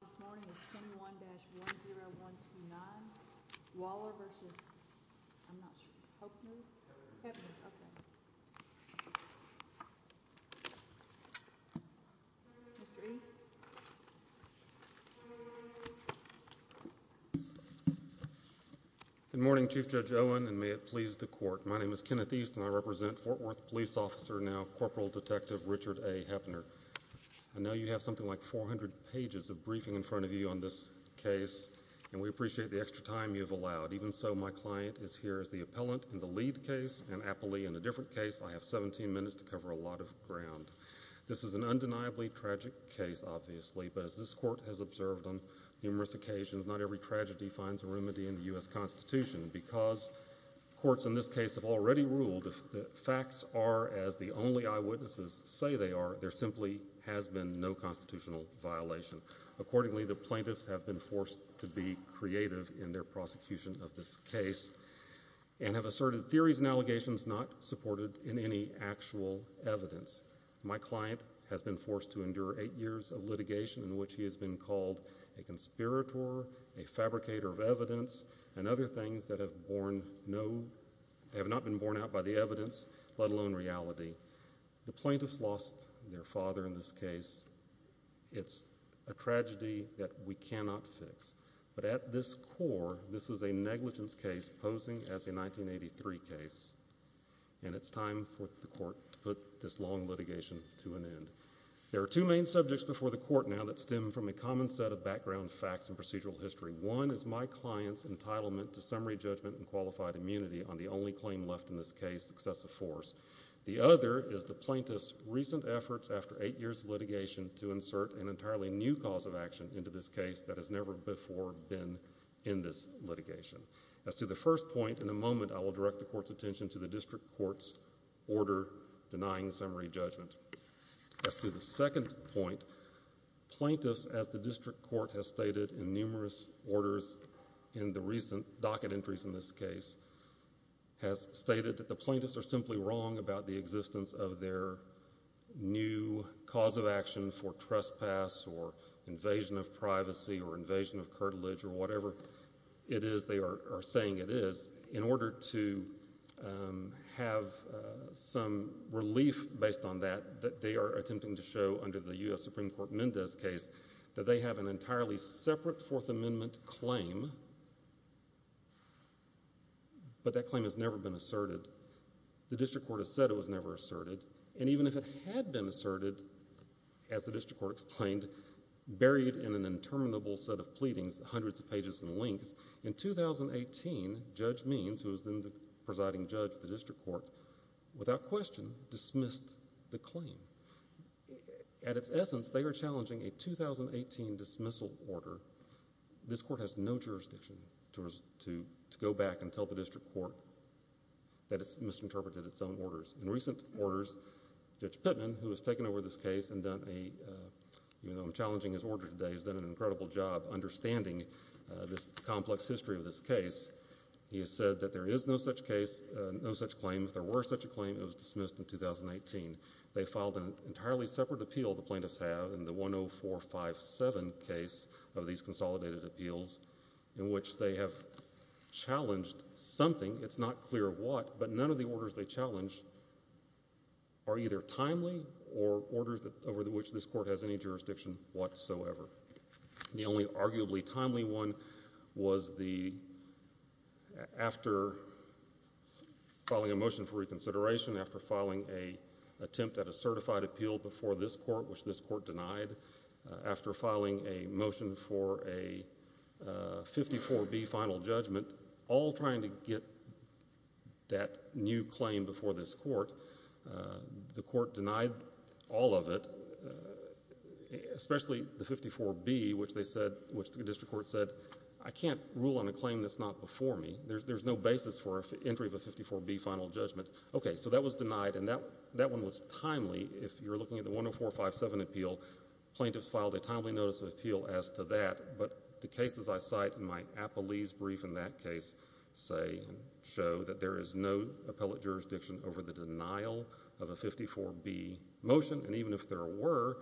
Good morning Chief Judge Owen and may it please the court. My name is Kenneth East and I represent Fort Worth Police Officer, now Corporal Detective Richard A. Hoeppner. I know you have something like 400 pages of briefing in front of you on this case and we appreciate the extra time you've allowed. Even so, my client is here as the appellant in the lead case and appellee in a different case. I have 17 minutes to cover a lot of ground. This is an undeniably tragic case obviously, but as this court has observed on numerous occasions, not every tragedy finds a remedy in the U.S. Constitution. Because courts in this case have already ruled that facts are as the only eyewitnesses say they are, there simply has been no constitutional violation. Accordingly, the plaintiffs have been forced to be creative in their prosecution of this case and have asserted theories and allegations not supported in any actual evidence. My client has been forced to endure eight years of litigation in which he has been called a conspirator, a fabricator of evidence, and other things that have not been borne out by the evidence, let alone reality. The plaintiffs lost their father in this case. It's a tragedy that we cannot fix. But at this core, this is a negligence case posing as a 1983 case, and it's time for the court to put this long litigation to an end. There are two main subjects before the court now that stem from a common set of background facts and procedural history. One is my client's entitlement to summary judgment and qualified immunity on the only claim left in this case, excessive force. The other is the plaintiff's recent efforts after eight years of litigation to insert an entirely new cause of action into this case that has never before been in this litigation. As to the first point, in a moment I will direct the court's attention to the district court's order denying summary judgment. As to the second point, plaintiffs, as the district court has stated in numerous orders in the past, that the plaintiffs are simply wrong about the existence of their new cause of action for trespass or invasion of privacy or invasion of curtilage or whatever it is they are saying it is, in order to have some relief based on that, they are attempting to show under the U.S. Supreme Court Mendez case that they have an entirely separate Fourth Amendment. But that claim has never been asserted. The district court has said it was never asserted. And even if it had been asserted, as the district court explained, buried in an interminable set of pleadings, hundreds of pages in length, in 2018, Judge Means, who was then the presiding judge of the district court, without question dismissed the claim. At its essence, they are challenging a 2018 dismissal order. This court has no jurisdiction to go back and tell the district court that it has misinterpreted its own orders. In recent orders, Judge Pittman, who has taken over this case and done a, even though I am challenging his order today, has done an incredible job understanding this complex history of this case. He has said that there is no such case, no such claim. If there were such a claim, it was dismissed in 2018. They filed an entirely separate appeal, the plaintiffs have, in the 10457 case of these consolidated appeals, in which they have challenged something. It is not clear what, but none of the orders they challenged are either timely or orders over which this court has any jurisdiction whatsoever. The only arguably timely one was the, after filing a motion for reconsideration, after filing an attempt at a certified appeal before this court, which this court denied, after filing a motion for a 54B final judgment, all trying to get that new claim before this court, the court denied all of it, especially the 54B, which they said, which the district court said, I cannot rule on a claim that is not before me. There is no basis for an entry of a 54B final judgment. Okay, so that was denied and that one was timely. If you are looking at the 10457 appeal, plaintiffs filed a timely notice of appeal as to that, but the cases I cite in my appellee's brief in that case say, show that there is no appellate jurisdiction over the denial of a 54B motion and even if there were,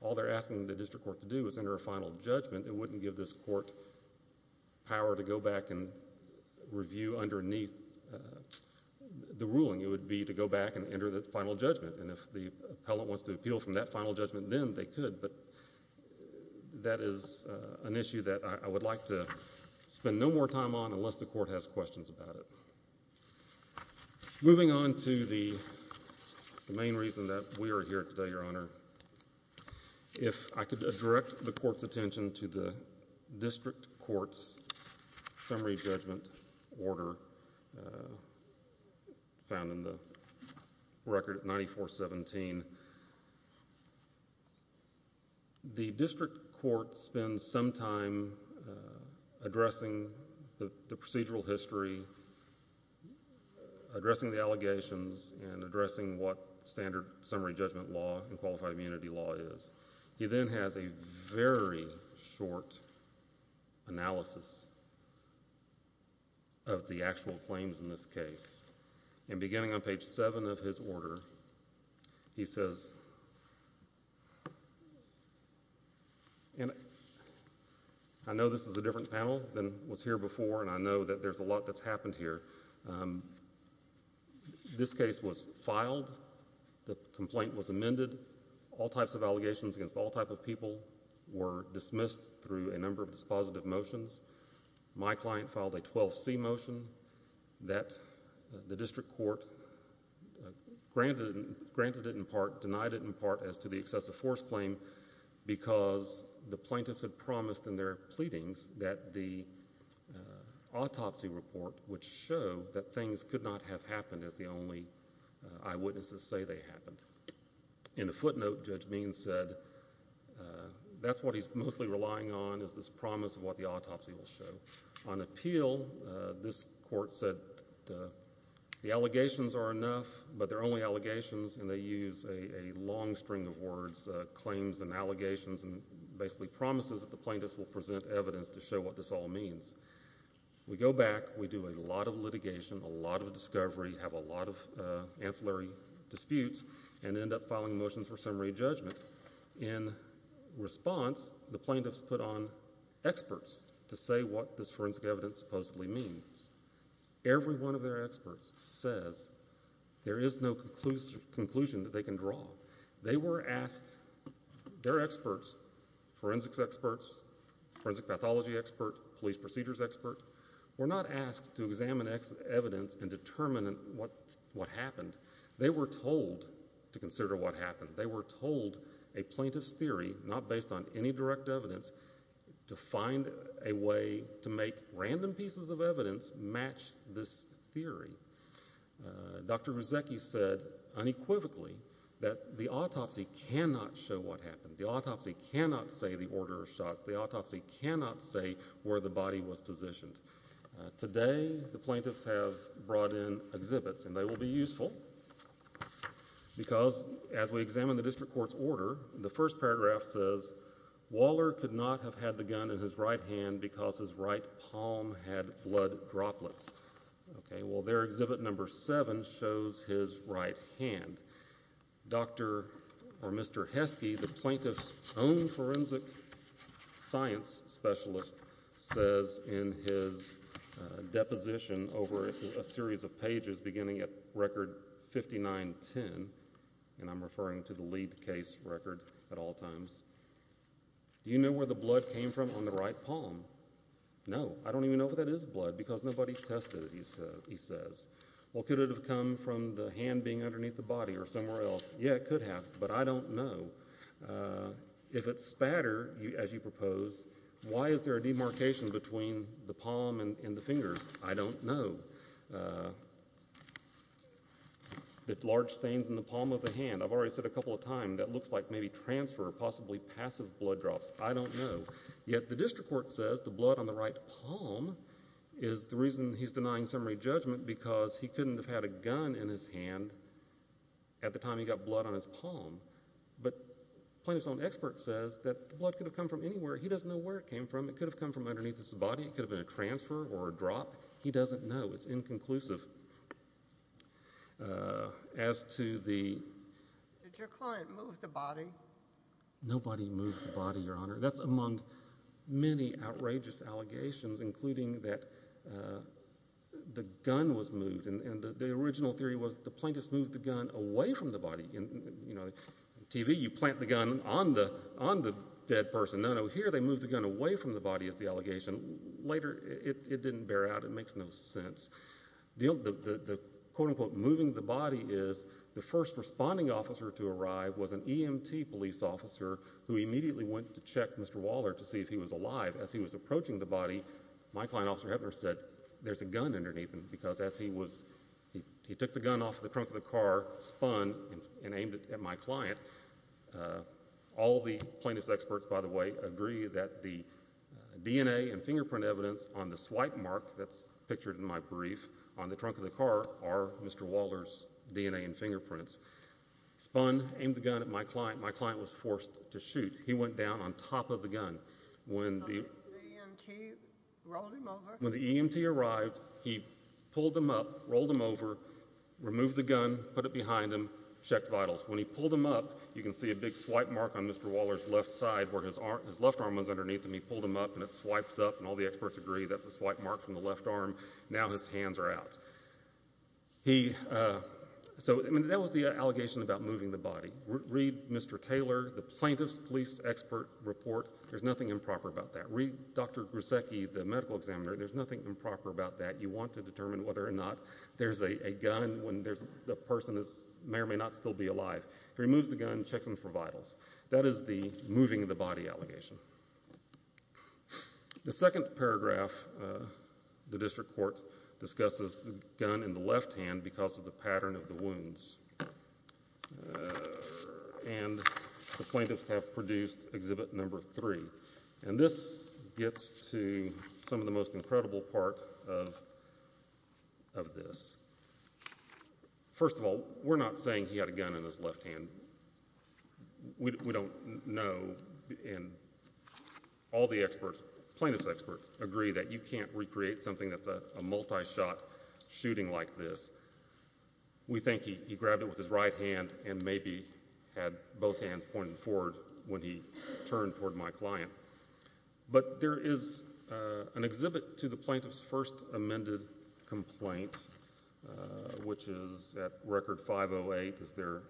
all they are asking the district court to do is enter a final judgment, it wouldn't give this court power to go back and review underneath the ruling. It would be to go back and enter the final judgment and if the appellant wants to appeal from that final judgment then they could, but that is an issue that I would like to spend no more time on unless the court has questions about it. Moving on to the main reason that we are here today, Your Honor, if I could direct the court's attention to the district court's summary judgment order found in the record 9417. The district court spends some time addressing the procedural history, addressing the allegations and addressing what standard summary judgment law and qualified immunity law is. He then has a very short analysis of the actual claims in this case and beginning on page 7 of his order, he says, I know this is a different panel than was here before and I know that there is a lot that has happened here. This case was filed, the complaint was amended, all types of allegations against all types of people were dismissed through a number of dispositive motions. My client filed a 12C motion that the district court granted it in part, denied it in part as to the excessive force claim because the plaintiffs had promised in their pleadings that the autopsy report would show that things could not have happened as the only eyewitnesses say they happened. In a footnote, Judge Means said that's what he's mostly relying on is this promise of what the autopsy will show. On appeal, this court said the allegations are enough but they're only allegations and they use a long string of words, claims and they show what this all means. We go back, we do a lot of litigation, a lot of discovery, have a lot of ancillary disputes and end up filing motions for summary judgment. In response, the plaintiffs put on experts to say what this forensic evidence supposedly means. Every one of their experts says there is no conclusion that they can draw. They were asked, their expert, police procedures expert, were not asked to examine evidence and determine what happened. They were told to consider what happened. They were told a plaintiff's theory, not based on any direct evidence, to find a way to make random pieces of evidence match this theory. Dr. Ruzecki said unequivocally that the autopsy cannot show what happened. The autopsy cannot say the order of shots. The autopsy cannot say where the body was positioned. Today, the plaintiffs have brought in exhibits and they will be useful because as we examine the district court's order, the first paragraph says, Waller could not have had the gun in his right hand because his right palm had blood droplets. Okay, well there exhibit number seven shows his right hand. Dr. or Mr. Heskey, the plaintiff's own forensic science specialist, says in his deposition over a series of pages beginning at record 5910, and I'm referring to the lead case record at all times, do you know where the blood came from on the right palm? No, I don't even know if that is blood because nobody tested it, he says. Well, could it have come from the hand being underneath the body or somewhere else? Yeah, it could have, but I don't know. If it's spatter, as you propose, why is there a demarcation between the palm and the fingers? I don't know. The large stains in the palm of the hand, I've already said a couple of times, that looks like maybe transfer or possibly passive blood drops. I don't know. Yet the district court says the blood on the right palm is the reason he's denying summary judgment because he couldn't have had a gun in his hand at the time he got blood on his palm. But plaintiff's own expert says that the blood could have come from anywhere. He doesn't know where it came from. It could have come from underneath his body. It could have been a transfer or a drop. He doesn't know. It's inconclusive. As to the... Did your client move the body? Nobody moved the body, Your Honor, among many outrageous allegations, including that the gun was moved. The original theory was the plaintiff's moved the gun away from the body. In TV, you plant the gun on the dead person. No, no, here they moved the gun away from the body is the allegation. Later it didn't bear out. It makes no sense. The quote unquote moving the body is the first responding officer to arrive was an EMT police officer who immediately went to check Mr. Waller to see if he was alive. As he was approaching the body, my client, Officer Heppner, said there's a gun underneath him because as he took the gun off the trunk of the car, spun and aimed it at my client. All the plaintiff's experts, by the way, agree that the DNA and fingerprint evidence on the swipe mark that's pictured in my brief on the trunk of the car are Mr. Waller's DNA and fingerprints. Spun, aimed the gun at my client. My client was stunned. When the EMT arrived, he pulled him up, rolled him over, removed the gun, put it behind him, checked vitals. When he pulled him up, you can see a big swipe mark on Mr. Waller's left side where his left arm was underneath him. He pulled him up and it swipes up and all the experts agree that's a swipe mark from the left arm. Now his hands are out. So that was the allegation about moving the body. Read Mr. Taylor, the plaintiff's police expert report. There's nothing improper about that. Read Dr. Gruszecki, the medical examiner. There's nothing improper about that. You want to determine whether or not there's a gun when the person may or may not still be alive. He removes the gun, checks them for vitals. That is the moving the body allegation. The second paragraph, the district court discusses the gun in the left hand because of the pattern of the wounds. And the plaintiffs have produced exhibit number three. And this gets to some of the most incredible part of this. First of all, we're not saying he had a gun in his left hand. We don't know and all the experts, plaintiffs experts, agree that you can't recreate something that's a multi-shot shooting like this. We think he grabbed it with his right hand and maybe had both hands pointed forward when he turned toward my client. But there is an exhibit to the plaintiff's first amended complaint which is at record 508. It's their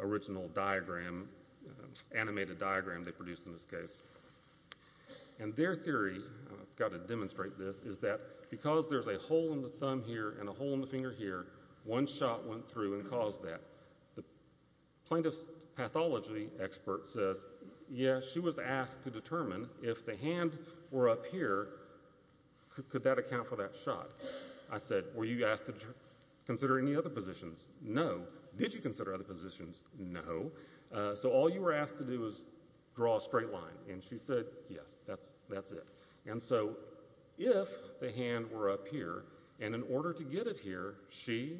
original diagram, animated diagram they produced in this case. And their theory, I've got to demonstrate this, is that because there's a hole in the thumb here and a hole in the finger here, one shot went through and caused that. The plaintiff's pathology expert says, yes, she was asked to determine if the hand were up here, could that account for that shot? I said, were you asked to consider any other positions? No. Did you consider other positions? No. So all you were asked to do was draw a straight line. And she said, yes, that's it. And so if the hand were up here and in order to get it here, she,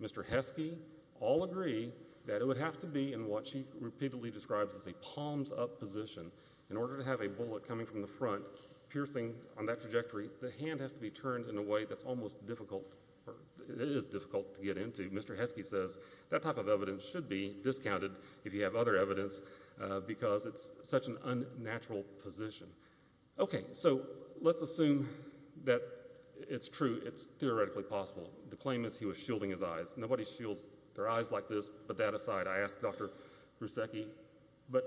Mr. Heskey, all agree that it would have to be in what she repeatedly describes as a palms-up position. In order to have a bullet coming from the front piercing on that trajectory, the hand has to be turned in a way that's almost difficult, or it is difficult to get into. Mr. Heskey says that type of evidence should be discounted if you have other evidence because it's such an unnatural position. Okay, so let's assume that it's true, it's theoretically possible. The claim is he was shielding his eyes. Nobody shields their eyes like this, but that aside, I asked Dr. Heskey. But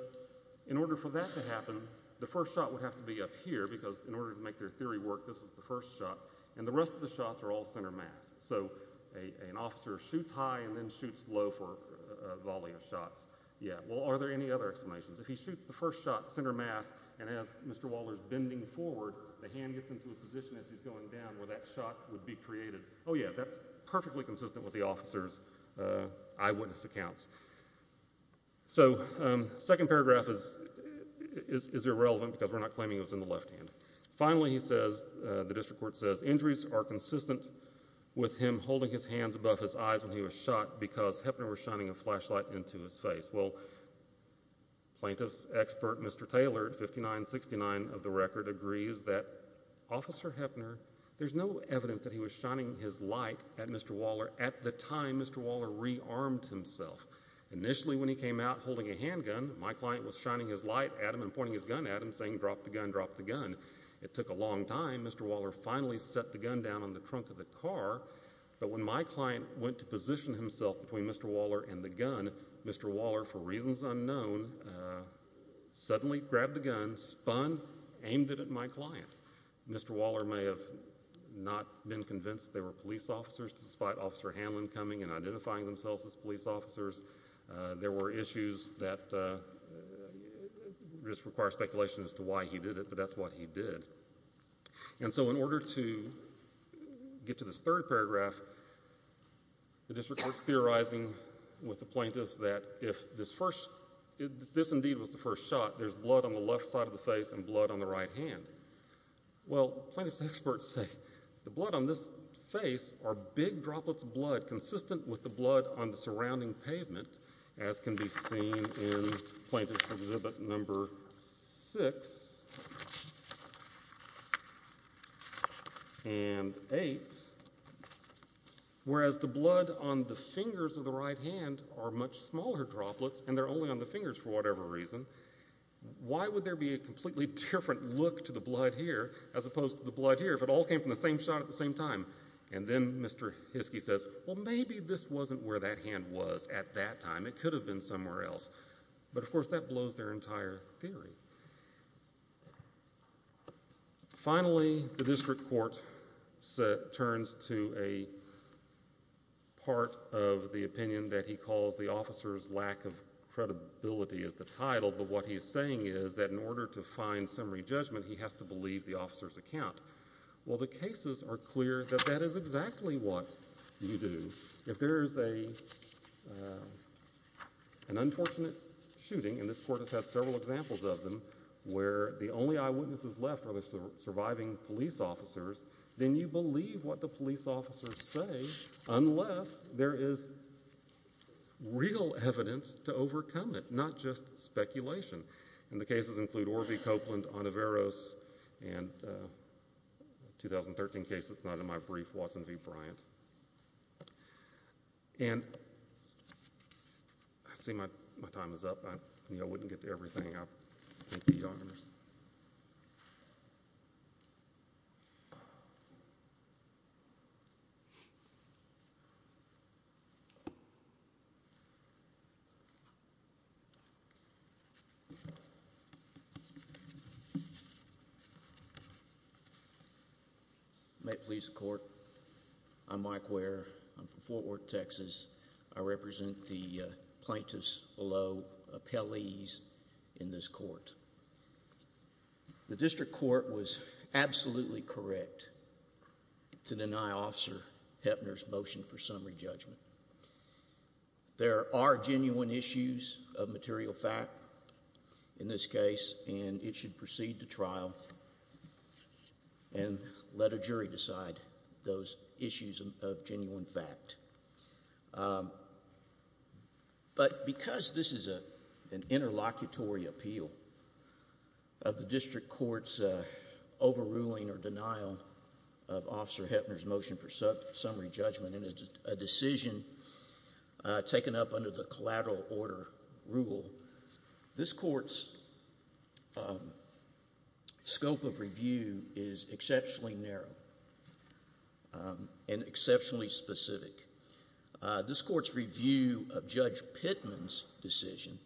in order for that to happen, the first shot would have to be up here because in order to make their theory work, this is the first shot. And the rest of the shots are all center mass. So an officer shoots high and then shoots low for a volley of shots. Yeah, well, are there any other explanations? If he shoots the first shot center mass and has Mr. Waller's bending forward, the hand gets into a position as he's going down where that shot would be created. Oh yeah, that's perfectly consistent with the officer's eyewitness accounts. So, second paragraph is irrelevant because we're not claiming it was in the left hand. Finally, he says, the district court says, injuries are consistent with him holding his hands above his eyes when he was shot because Hepner was shining a flashlight into his face. Well, plaintiff's expert, Mr. Taylor at 5969 of the record, agrees that Officer Hepner, there's no evidence that he was shining his light at Mr. Waller at the time Mr. Waller rearmed himself. Initially, when he came out holding a handgun, my client was shining his light at him and pointing his gun at him saying, drop the gun, drop the gun. It took a long time. Mr. Waller finally set the gun down on the trunk of the car. But when my client went to position himself between Mr. Waller and the gun, Mr. Waller, for reasons unknown, suddenly grabbed the gun, spun, aimed it at my client. Mr. Waller may have not been convinced they were police officers despite Officer Hanlon coming and identifying themselves as police officers. There were issues that just require speculation as to why he did it, but that's what he did. And so in order to get to this third paragraph, the district court is theorizing with the plaintiffs that if this indeed was the first shot, there's blood on the left side of the face and blood on the right hand. Well, plaintiff's experts say the blood on this face are big droplets of blood consistent with the blood on the left hand. And eight, whereas the blood on the fingers of the right hand are much smaller droplets and they're only on the fingers for whatever reason, why would there be a completely different look to the blood here as opposed to the blood here if it all came from the same shot at the same time? And then Mr. Hiskey says, well, maybe this wasn't where that hand was at that time. It could have been somewhere else. But of course that blows their entire theory. Finally, the district court turns to a part of the opinion that he calls the officer's lack of credibility is the title, but what he's saying is that in order to find summary judgment, he has to believe the officer's account. Well, the cases are clear that that is exactly what you do. If there is an unfortunate shooting, and this court has had several examples of them, where the only eyewitnesses left are the surviving police officers, then you believe what the police officers say unless there is real evidence to overcome it, not just speculation. And the cases include Orvie Copeland on Averroes and a 2013 case that's not in my brief, Watson v. Bryant. And I see my time is up. I wouldn't get to everything. Thank you, Your Honors. May it please the court, I'm Mike Ware. I'm from Fort Worth, Texas. I represent the plaintiffs below appellees in this court. The district court was absolutely correct to deny Officer Heppner's motion for summary judgment. There are genuine issues of material fact in this case, and it should proceed to trial and let a jury decide those issues of genuine fact. But, because this is an interlocutory appeal of the district court's overruling or denial of Officer Heppner's motion for summary judgment, and it's a decision taken up under the collateral order rule, this court's scope of review is exceptionally narrow and exceptionally specific. This court's review of Judge Pittman's decision,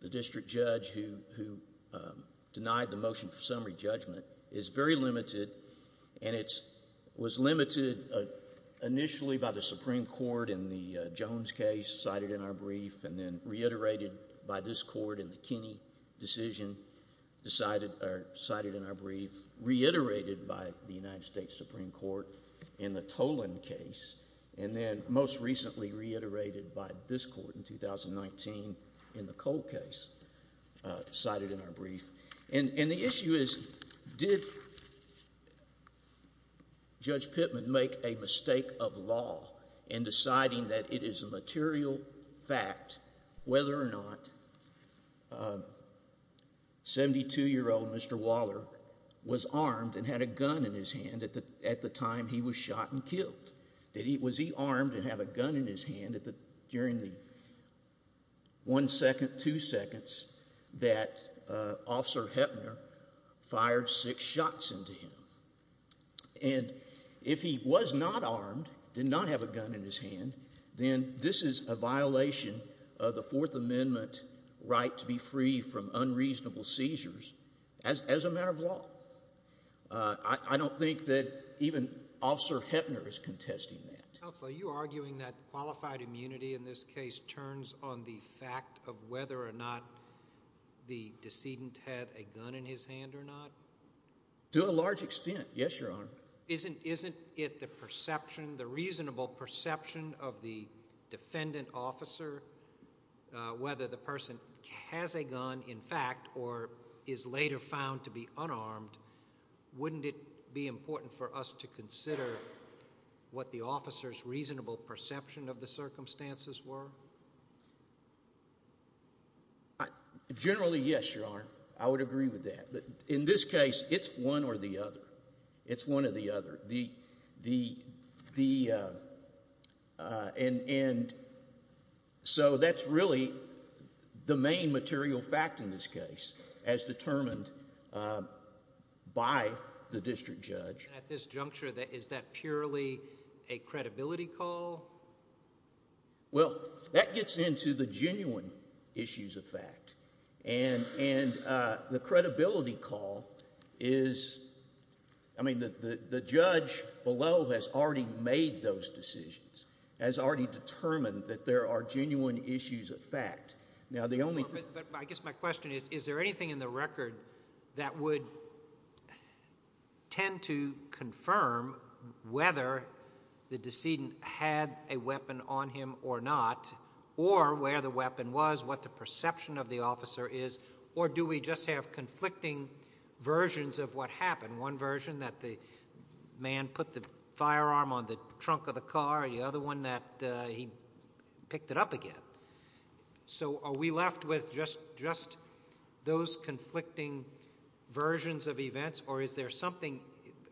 the district judge who denied the motion for summary judgment, is very limited, and it was limited initially by the Supreme Court in the Jones case cited in our brief, and then reiterated by this court in the Kinney decision cited in our brief, reiterated by the United States Supreme Court in the Toland case, and then most recently reiterated by this court in 2019 in the Cole case cited in our brief. And the issue is, did Judge Pittman make a mistake of law in deciding that it is a material fact whether or not 72-year-old Mr. Waller was armed and had a gun in his hand during the one second, two seconds that Officer Heppner fired six shots into him. And if he was not armed, did not have a gun in his hand, then this is a violation of the Fourth Amendment right to be free from unreasonable seizures as a matter of law. I don't think that even Officer Heppner is contesting that. Counsel, are you arguing that qualified immunity in this case turns on the fact of whether or not the decedent had a gun in his hand or not? To a large extent, yes, Your Honor. Isn't it the perception, the reasonable perception of the defendant officer, whether the person has a gun in fact or is later found to be unarmed, wouldn't it be important for us to consider what the officer's reasonable perception of the circumstances were? Generally yes, Your Honor. I would agree with that. But in this case, it's one or the other. It's one or the other. And so that's really the most important part of this case. The main material fact in this case, as determined by the district judge. At this juncture, is that purely a credibility call? Well, that gets into the genuine issues of fact. And the credibility call is, I mean the judge below has already made those decisions, has already determined that there are genuine issues of fact. Now, the only thing... But I guess my question is, is there anything in the record that would tend to confirm whether the decedent had a weapon on him or not, or where the weapon was, what the perception of the officer is, or do we just have conflicting versions of what happened? One version that the man put the firearm on the trunk of the car, the other one that he picked it up again. So are we left with just those conflicting versions of events, or is there something,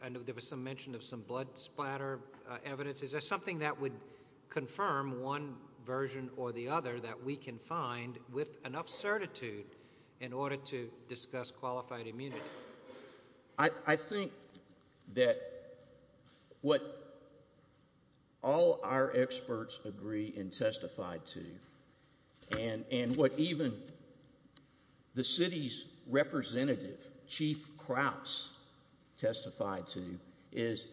I know there was some mention of some blood splatter evidence, is there something that would confirm one version or the other that we can find with enough certitude in order to discuss qualified immunity? I think that what all our experts agree and testify to, is that there's a lot of evidence that's been testified to, and what even the city's representative, Chief Krause, testified to is,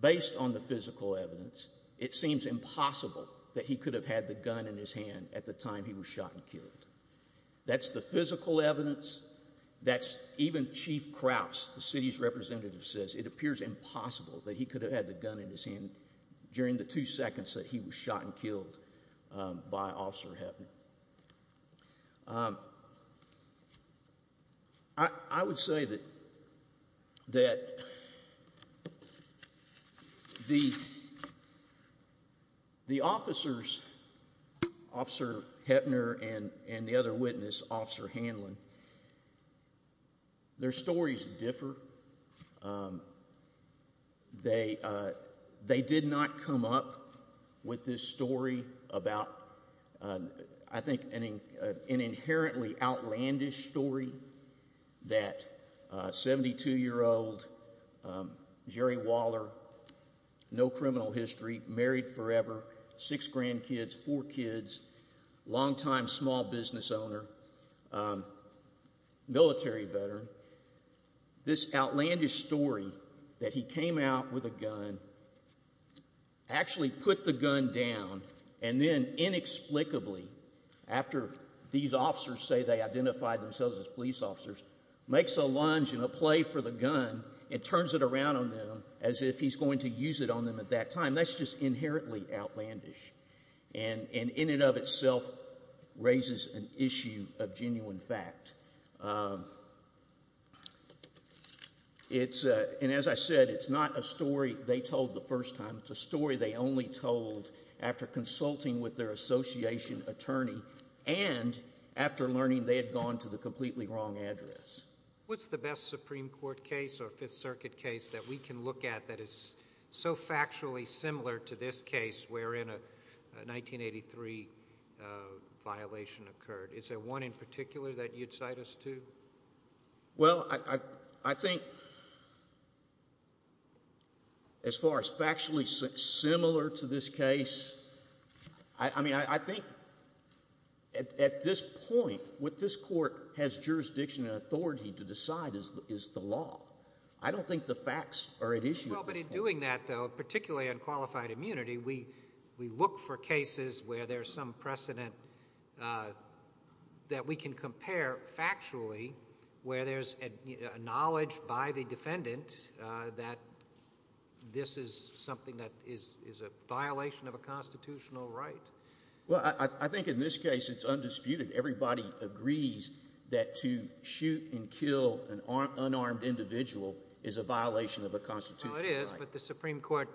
based on the physical evidence, it seems impossible that he could have had the gun in his hand at the time he was shot and killed. That's the physical evidence, that's even Chief Krause, the city's representative says, it appears impossible that he could have had the gun in his hand at the time he was shot and killed by Officer Heppner. I would say that the officers, Officer Heppner and the other witness, Officer Hanlon, their stories differ. They did not come up with this story about the gun in his hand. They came up with, I think, an inherently outlandish story that a 72-year-old, Jerry Waller, no criminal history, married forever, six grandkids, four kids, long-time small business owner, military veteran, this outlandish story that he came out with a gun, actually put the gun down, and then inexplicably, after these officers say they identified themselves as police officers, makes a lunge and a play for the gun and turns it around on them as if he's going to use it on them at that time. That's just inherently outlandish, and in and of itself raises an issue of genuine fact. And as I said, it's not a story they told the first time. It's a story they only told after consulting with their association attorney and after learning they had gone to the completely wrong address. What's the best Supreme Court case or Fifth Circuit case that we can look at that is so factually similar to this case wherein a 1983 violation occurred? Is there one in particular that you'd cite us to? Well, I think as far as factually similar to this case, I mean, I think at this point, what this Court has jurisdiction and authority to decide is the law. I don't think the facts are at issue at this point. Well, but in doing that, though, particularly on qualified immunity, we look for cases where there's some precedent that we can compare factually where there's a knowledge by the defendant that this is something that is a violation of a constitutional right. Well, I think in this case it's undisputed. Everybody agrees that to shoot and kill an unarmed individual is a violation of a constitutional right. Well, it is, but the Supreme Court,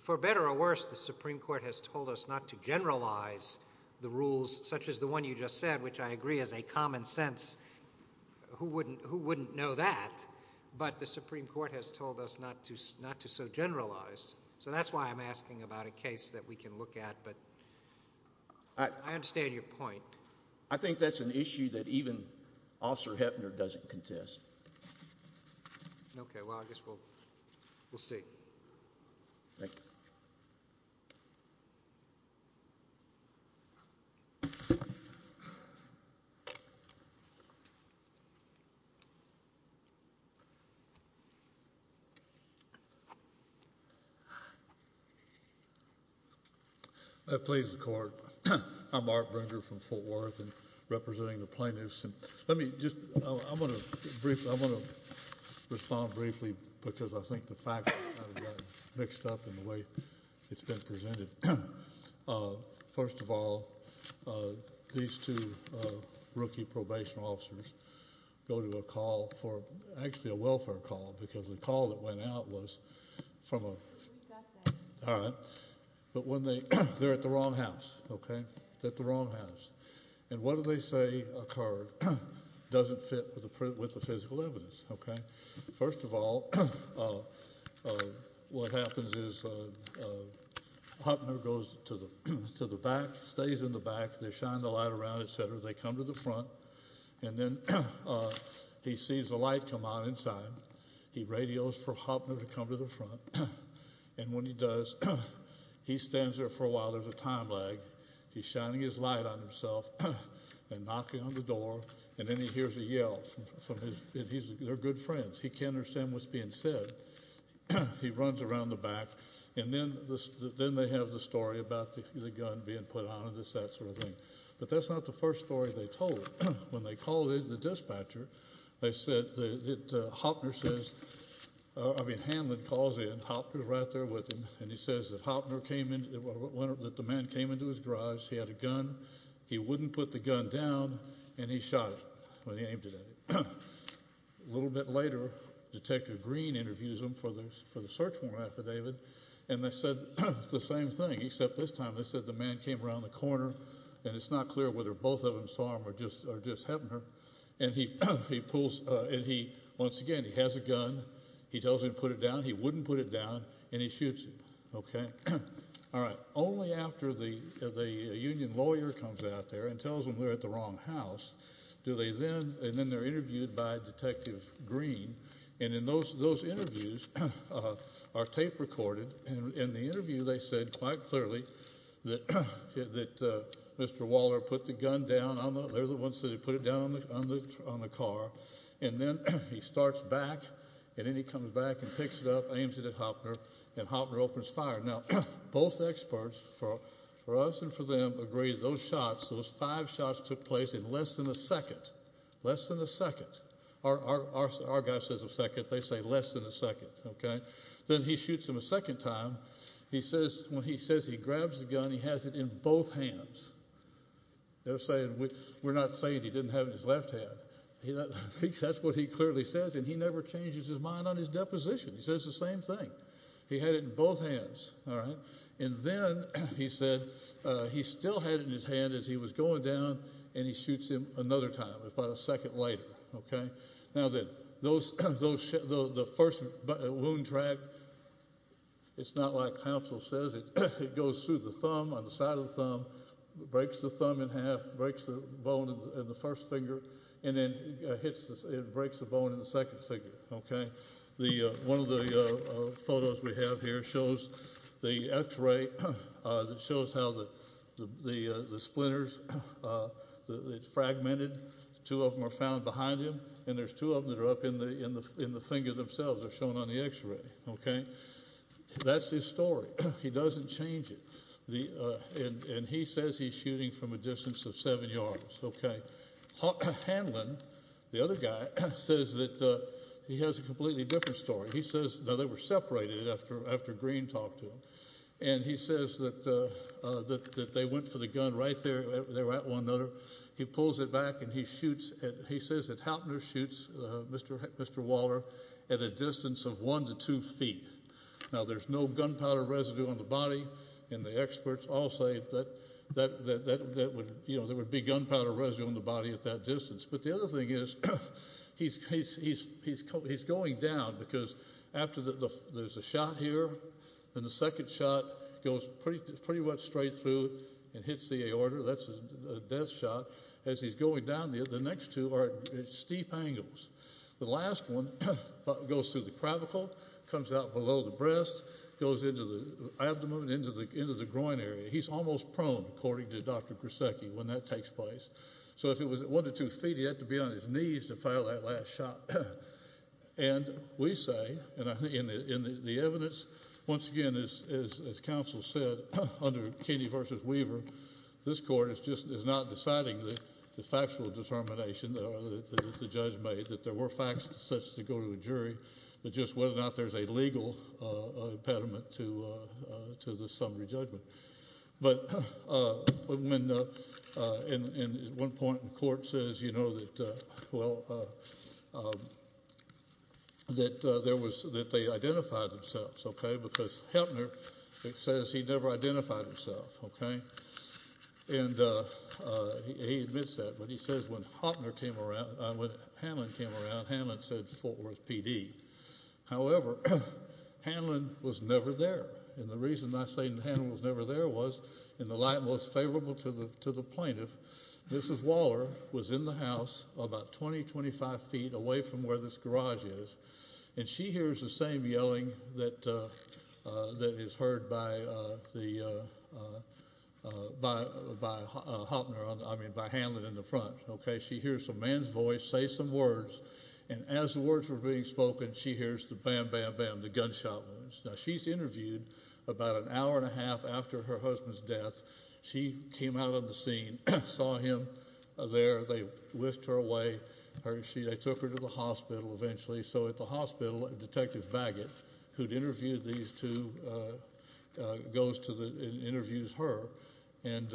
for better or worse, the Supreme Court has told us not to generalize the rules such as the one you just said, which I agree is a common sense. Who wouldn't know that? But the Supreme Court has told us not to so generalize. So that's why I'm asking about a case that we can look at, but I understand your point. I think that's an issue that even Officer Heppner doesn't contest. Okay. Well, I guess we'll see. Thank you. Please, the Court. I'm Art Bringer from Fort Worth and representing the plaintiffs. Let me just, I'm going to respond briefly because I think the facts are mixed up in the way it's been presented. First of all, these two rookie probation officers go to a call for, actually a welfare call, because the call that went out was from a... We've got that. All right. But when they, they're at the wrong house, okay? They're at the wrong house. And what do they say occurred doesn't fit with the physical evidence, okay? First of all, what happens is Heppner goes to the back, stays in the back. They shine the light around, etc. They come to the front, and then he sees the light come on inside. He radios for Heppner to come to the front, and when he does, he stands there for a while. There's a time lag. He's shining his light on himself and knocking on the door, and then he hears a yell from his, they're good friends. He can't understand what's being said. He runs around the back, and then they have the story about the gun being put on and this, that sort of thing. But that's not the first story they told. When they called in the dispatcher, they said that Heppner says, I mean Hanlon calls in. Hopner's right there with him, and he says that Hopner came in, that the man came into his garage. He had a gun. He wouldn't put the gun down, and he shot it when he aimed it at it. A little bit later, Detective Green interviews him for the search warrant affidavit, and they said the same thing, except this time they said the man came around the corner, and it's not clear whether both of them saw him or just Heppner, and he pulls, and he, once again, he has a gun. He tells him to put it down. He wouldn't put it down, and he shoots him. All right, only after the union lawyer comes out there and tells them they're at the wrong house do they then, and then they're interviewed by Detective Green, and in those interviews are tape recorded, and in the interview they said quite clearly that Mr. Waller put the gun down on the, on the car, and then he starts back, and then he comes back and picks it up, aims it at Hopner, and Hopner opens fire. Now, both experts, for us and for them, agree those shots, those five shots took place in less than a second, less than a second. Our guy says a second. They say less than a second, okay? Then he shoots him a second time. He says, when he says he grabs the gun, he has it in both hands. They're saying we're not saying he didn't have it in his left hand. That's what he clearly says, and he never changes his mind on his deposition. He says the same thing. He had it in both hands, all right? And then he said he still had it in his hand as he was going down, and he shoots him another time, about a second later, okay? Now, the first wound track, it's not like counsel says. It goes through the thumb, on the side of the thumb, breaks the thumb in half, breaks the bone in the first finger, and then it breaks the bone in the second finger, okay? One of the photos we have here shows the X-ray that shows how the splinters, it's fragmented. Two of them are found behind him, and there's two of them that are up in the finger themselves. They're shown on the X-ray, okay? That's his story. He doesn't change it, and he says he's shooting from a distance of seven yards, okay? Hanlon, the other guy, says that he has a completely different story. He says they were separated after Green talked to him, and he says that they went for the gun right there. They were at one another. He pulls it back, and he says that Houtner shoots Mr. Waller at a distance of one to two feet. Now, there's no gunpowder residue on the body, and the experts all say that there would be gunpowder residue on the body at that distance. But the other thing is he's going down because after there's a shot here, and the second shot goes pretty much straight through and hits the aorta. That's a death shot. As he's going down, the next two are at steep angles. The last one goes through the cravicle, comes out below the breast, goes into the abdomen, into the groin area. He's almost prone, according to Dr. Grisecki, when that takes place. So if it was at one to two feet, he'd have to be on his knees to file that last shot. And we say, and I think in the evidence, once again, as counsel said, under Kenney v. Weaver, this court is just not deciding the factual determination that the judge made that there were facts such as to go to a jury, but just whether or not there's a legal impediment to the summary judgment. But at one point the court says, you know, that they identified themselves, okay, because Heppner says he never identified himself. And he admits that, but he says when Hopner came around, when Hanlon came around, Hanlon said Fort Worth PD. However, Hanlon was never there. And the reason I say Hanlon was never there was, in the light most favorable to the plaintiff, Mrs. Waller was in the house about 20, 25 feet away from where this garage is, and she hears the same yelling that is heard by Hopner, I mean by Hanlon in the front, okay. She hears a man's voice say some words, and as the words were being spoken, she hears the bam, bam, bam, the gunshot wounds. Now, she's interviewed about an hour and a half after her husband's death. She came out on the scene, saw him there. They whisked her away. They took her to the hospital eventually. So at the hospital, Detective Baggett, who'd interviewed these two, goes to the interviews her, and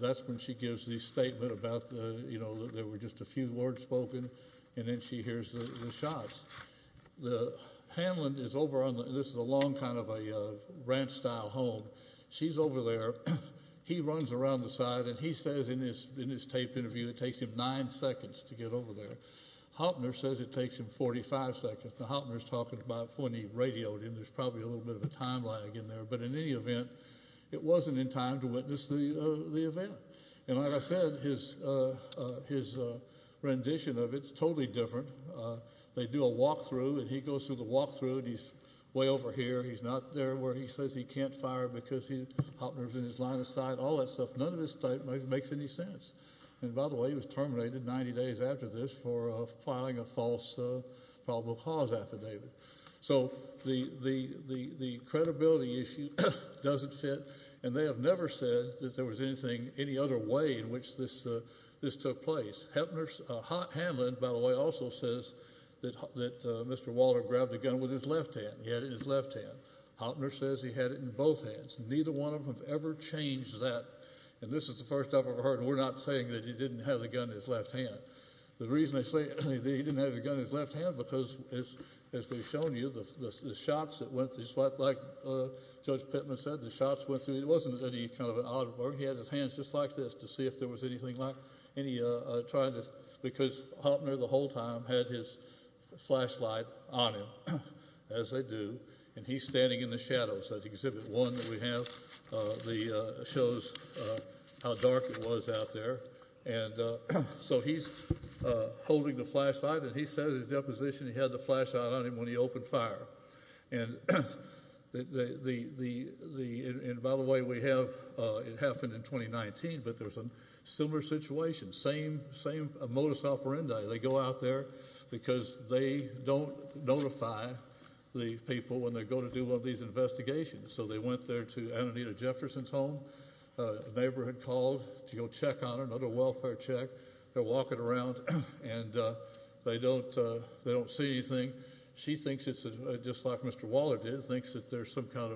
that's when she gives the statement about, you know, there were just a few words spoken, and then she hears the shots. Hanlon is over on the – this is a long kind of a ranch-style home. She's over there. He runs around the side, and he says in his taped interview it takes him nine seconds to get over there. Hopner says it takes him 45 seconds. Now, Hopner's talking about when he radioed him. There's probably a little bit of a time lag in there. But in any event, it wasn't in time to witness the event. And like I said, his rendition of it is totally different. They do a walkthrough, and he goes through the walkthrough, and he's way over here. He's not there where he says he can't fire because Hopner's in his line of sight, all that stuff. None of this makes any sense. And by the way, he was terminated 90 days after this for filing a false probable cause affidavit. So the credibility issue doesn't fit. And they have never said that there was anything, any other way in which this took place. Hopner's – Hanlon, by the way, also says that Mr. Walter grabbed a gun with his left hand. He had it in his left hand. Hopner says he had it in both hands. Neither one of them have ever changed that. And this is the first I've ever heard, and we're not saying that he didn't have the gun in his left hand. The reason I say that he didn't have the gun in his left hand because, as we've shown you, the shots that went through, just like Judge Pittman said, the shots went through. It wasn't any kind of an odd work. He had his hands just like this to see if there was anything like any trying to – because Hopner the whole time had his flashlight on him, as they do, and he's standing in the shadows. That's Exhibit 1 that we have that shows how dark it was out there. And so he's holding the flashlight, and he said in his deposition he had the flashlight on him when he opened fire. And, by the way, we have – it happened in 2019, but there's a similar situation, same modus operandi. They go out there because they don't notify the people when they go to do one of these investigations. So they went there to Ananita Jefferson's home. A neighbor had called to go check on her, another welfare check. They're walking around, and they don't see anything. She thinks it's just like Mr. Waller did, thinks that there's some kind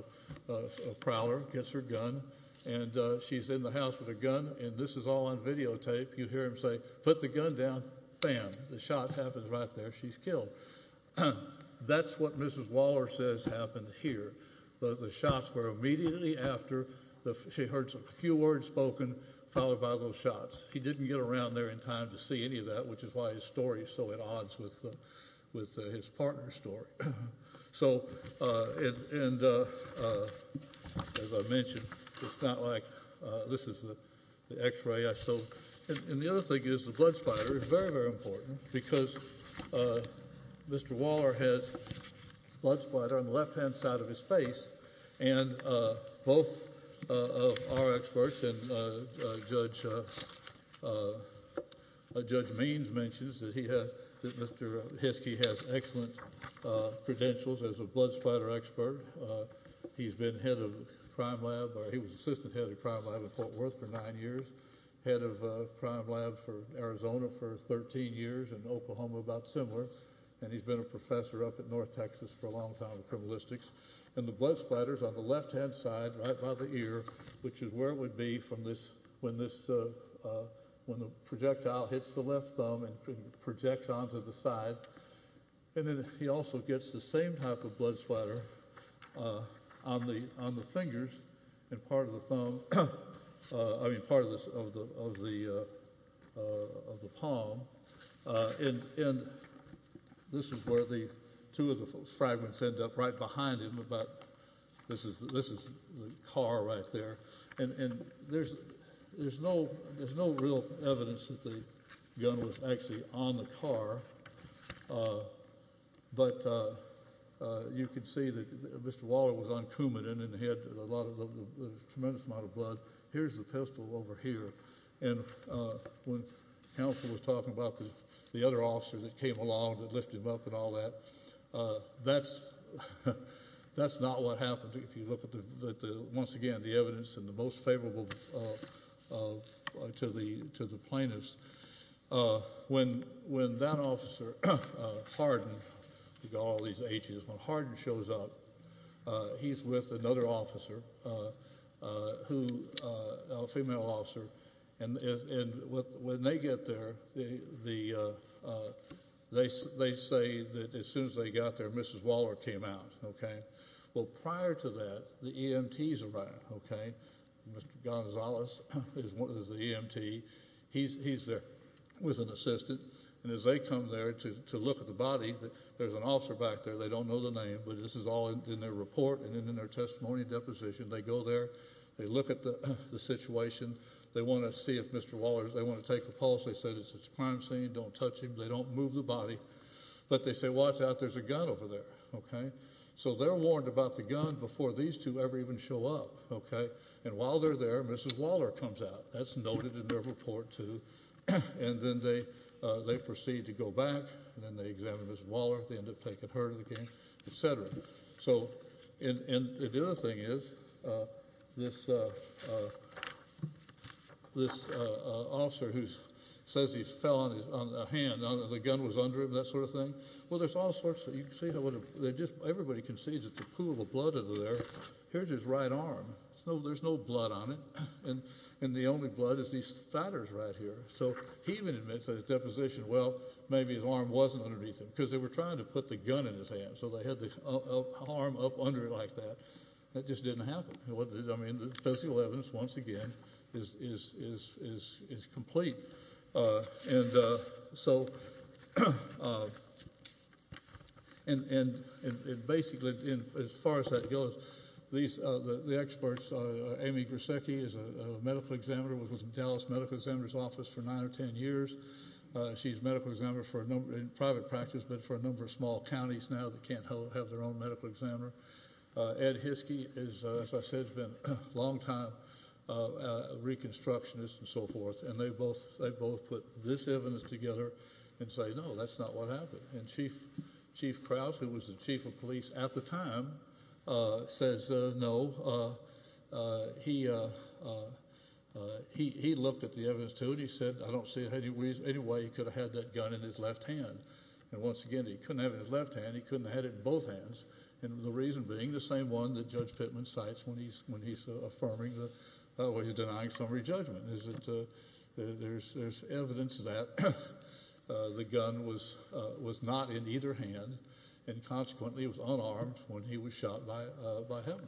of prowler, gets her gun, and she's in the house with a gun, and this is all on videotape. You hear him say, put the gun down, bam, the shot happens right there, she's killed. That's what Mrs. Waller says happened here. The shots were immediately after. She heard a few words spoken followed by those shots. He didn't get around there in time to see any of that, which is why his story is so at odds with his partner's story. So, and as I mentioned, it's not like – this is the X-ray I showed. And the other thing is the blood spider is very, very important because Mr. Waller has blood spider on the left-hand side of his face, and both of our experts and Judge Means mentions that he has – that Mr. Hiskey has excellent credentials as a blood spider expert. He's been head of the crime lab, or he was assistant head of the crime lab at Fort Worth for nine years, head of crime lab for Arizona for 13 years, and Oklahoma about similar, and he's been a professor up at North Texas for a long time in criminalistics. And the blood spider's on the left-hand side, right by the ear, which is where it would be from this – when this – when the projectile hits the left thumb and projects onto the side. And then he also gets the same type of blood spider on the fingers and part of the thumb – I mean part of the – of the palm. And this is where the – two of the fragments end up right behind him about – this is the car right there. And there's no real evidence that the gun was actually on the car, but you can see that Mr. Waller was on Coumadin and he had a lot of – a tremendous amount of blood. Here's the pistol over here. And when counsel was talking about the other officer that came along to lift him up and all that, that's not what happened if you look at the – once again, the evidence and the most favorable to the plaintiffs. When that officer, Hardin – you've got all these H's – when Hardin shows up, he's with another officer who – a female officer. And when they get there, they say that as soon as they got there, Mrs. Waller came out. Well, prior to that, the EMTs arrived. Mr. Gonzalez is the EMT. He's there with an assistant. And as they come there to look at the body, there's an officer back there. They don't know the name, but this is all in their report and in their testimony deposition. They go there. They look at the situation. They want to see if Mr. Waller – they want to take a pulse. They said it's a crime scene. Don't touch him. They don't move the body. But they say, watch out, there's a gun over there. So they're warned about the gun before these two ever even show up. And while they're there, Mrs. Waller comes out. That's noted in their report too. And then they proceed to go back, and then they examine Mrs. Waller. They end up taking her to the game, et cetera. So – and the other thing is this officer who says he fell on his – on a hand, the gun was under him, that sort of thing. Well, there's all sorts of – you can see how – everybody can see there's a pool of blood under there. Here's his right arm. There's no blood on it. And the only blood is these spatters right here. So he even admits in his deposition, well, maybe his arm wasn't underneath him because they were trying to put the gun in his hand, so they had the arm up under it like that. That just didn't happen. I mean, the physical evidence, once again, is complete. And so – and basically, as far as that goes, these – the experts, Amy Grisecki is a medical examiner, was with the Dallas Medical Examiner's Office for nine or ten years. She's a medical examiner for a number – in private practice, but for a number of small counties now that can't have their own medical examiner. Ed Hiskey is, as I said, has been a longtime reconstructionist and so forth, and they both put this evidence together and say, no, that's not what happened. And Chief Krause, who was the chief of police at the time, says no. He looked at the evidence, too, and he said, I don't see any way he could have had that gun in his left hand. And once again, he couldn't have it in his left hand. He couldn't have had it in both hands. And the reason being the same one that Judge Pittman cites when he's affirming the – is that there's evidence that the gun was not in either hand and consequently was unarmed when he was shot by him.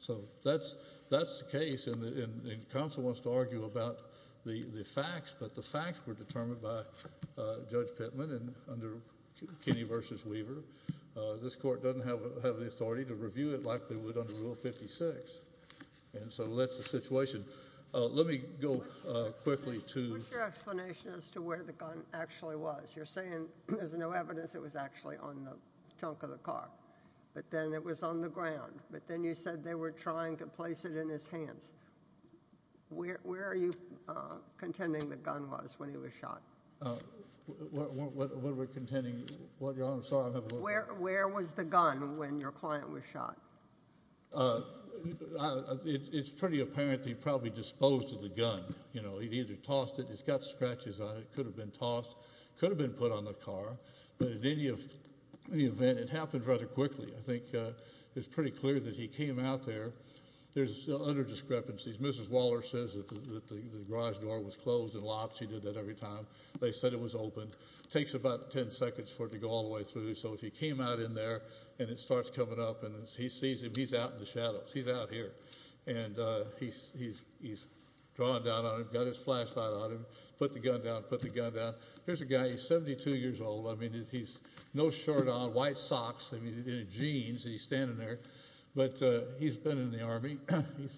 So that's the case, and counsel wants to argue about the facts, but the facts were determined by Judge Pittman and under Kinney v. Weaver. This court doesn't have the authority to review it like they would under Rule 56. And so that's the situation. Let me go quickly to – What's your explanation as to where the gun actually was? You're saying there's no evidence it was actually on the trunk of the car, but then it was on the ground. But then you said they were trying to place it in his hands. Where are you contending the gun was when he was shot? What are we contending? Your Honor, I'm sorry. Where was the gun when your client was shot? It's pretty apparent that he probably disposed of the gun. He'd either tossed it. It's got scratches on it. It could have been tossed. It could have been put on the car. But in any event, it happened rather quickly. I think it's pretty clear that he came out there. There's other discrepancies. Mrs. Waller says that the garage door was closed and locked. She did that every time. They said it was open. It takes about 10 seconds for it to go all the way through. So if he came out in there and it starts coming up and he sees him, he's out in the shadows. He's out here. And he's drawn down on him, got his flashlight on him, put the gun down, put the gun down. Here's a guy. He's 72 years old. I mean, he's no shirt on, white socks, I mean, jeans, and he's standing there. But he's been in the Army.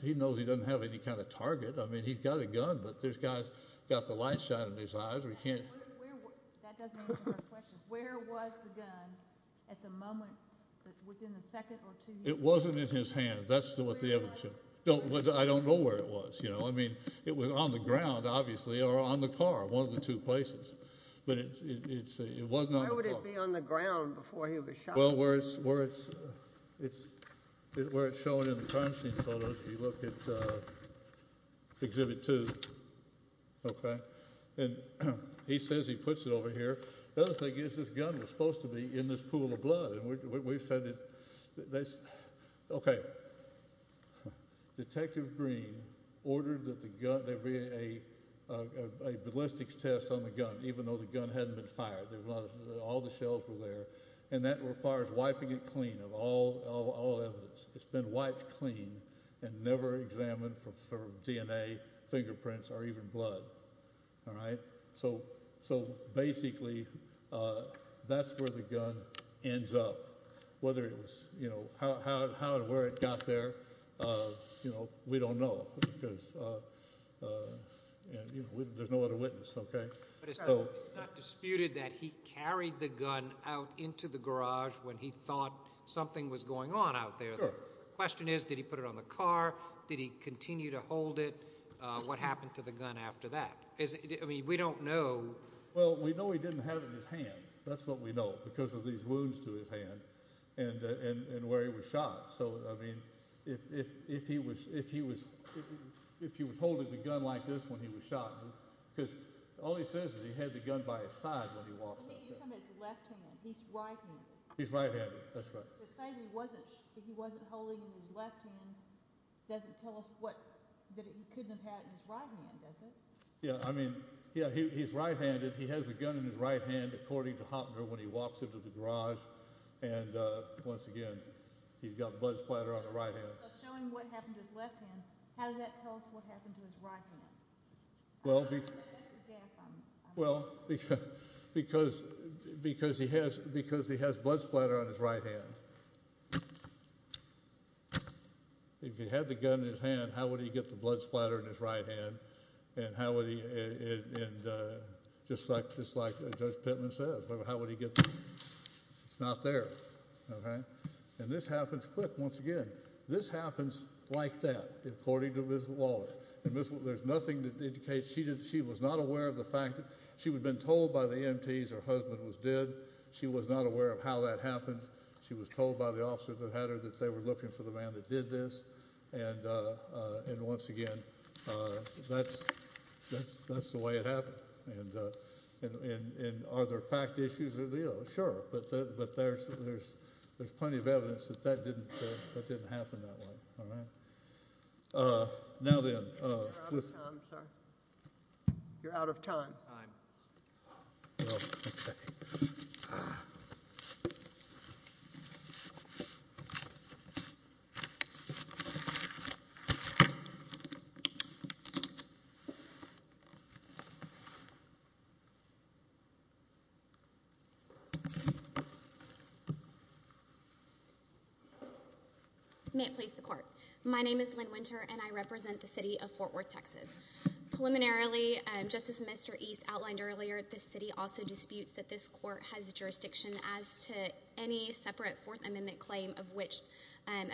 He knows he doesn't have any kind of target. I mean, he's got a gun, but this guy's got the light shining in his eyes. That doesn't answer my question. Where was the gun at the moment, within a second or two? It wasn't in his hands. That's what the evidence shows. I don't know where it was. I mean, it was on the ground, obviously, or on the car, one of the two places. But it wasn't on the car. Why would it be on the ground before he was shot? Well, where it's shown in the crime scene photos, if you look at Exhibit 2, okay? He says he puts it over here. The other thing is this gun was supposed to be in this pool of blood. We've said that that's okay. Detective Green ordered that there be a ballistics test on the gun, even though the gun hadn't been fired. All the shells were there. And that requires wiping it clean of all evidence. It's been wiped clean and never examined for DNA, fingerprints, or even blood. All right? So, basically, that's where the gun ends up. Whether it was, you know, how and where it got there, you know, we don't know. Because, you know, there's no other witness, okay? But it's not disputed that he carried the gun out into the garage when he thought something was going on out there. The question is, did he put it on the car? Did he continue to hold it? What happened to the gun after that? I mean, we don't know. Well, we know he didn't have it in his hand. That's what we know because of these wounds to his hand and where he was shot. So, I mean, if he was holding the gun like this when he was shot, he's right-handed. He's right-handed. That's right. To say he wasn't holding it in his left hand doesn't tell us that he couldn't have had it in his right hand, does it? Yeah, I mean, yeah, he's right-handed. He has the gun in his right hand, according to Hopner, when he walks into the garage. And, once again, he's got blood splatter on the right hand. So, showing what happened to his left hand, how does that tell us what happened to his right hand? Well, because he has blood splatter on his right hand. If he had the gun in his hand, how would he get the blood splatter in his right hand? And just like Judge Pittman says, how would he get the blood splatter? It's not there. And this happens quick, once again. This happens like that, according to Miss Waller. There's nothing that indicates she was not aware of the fact that she had been told by the EMTs her husband was dead. She was not aware of how that happened. She was told by the officers that had her that they were looking for the man that did this. And, once again, that's the way it happened. And are there fact issues? Sure, but there's plenty of evidence that that didn't happen that way. All right. Now then. You're out of time. May it please the Court. My name is Lynn Winter, and I represent the city of Fort Worth, Texas. Preliminarily, just as Mr. East outlined earlier, the city also disputes that this court has jurisdiction as to any separate Fourth Amendment claim of which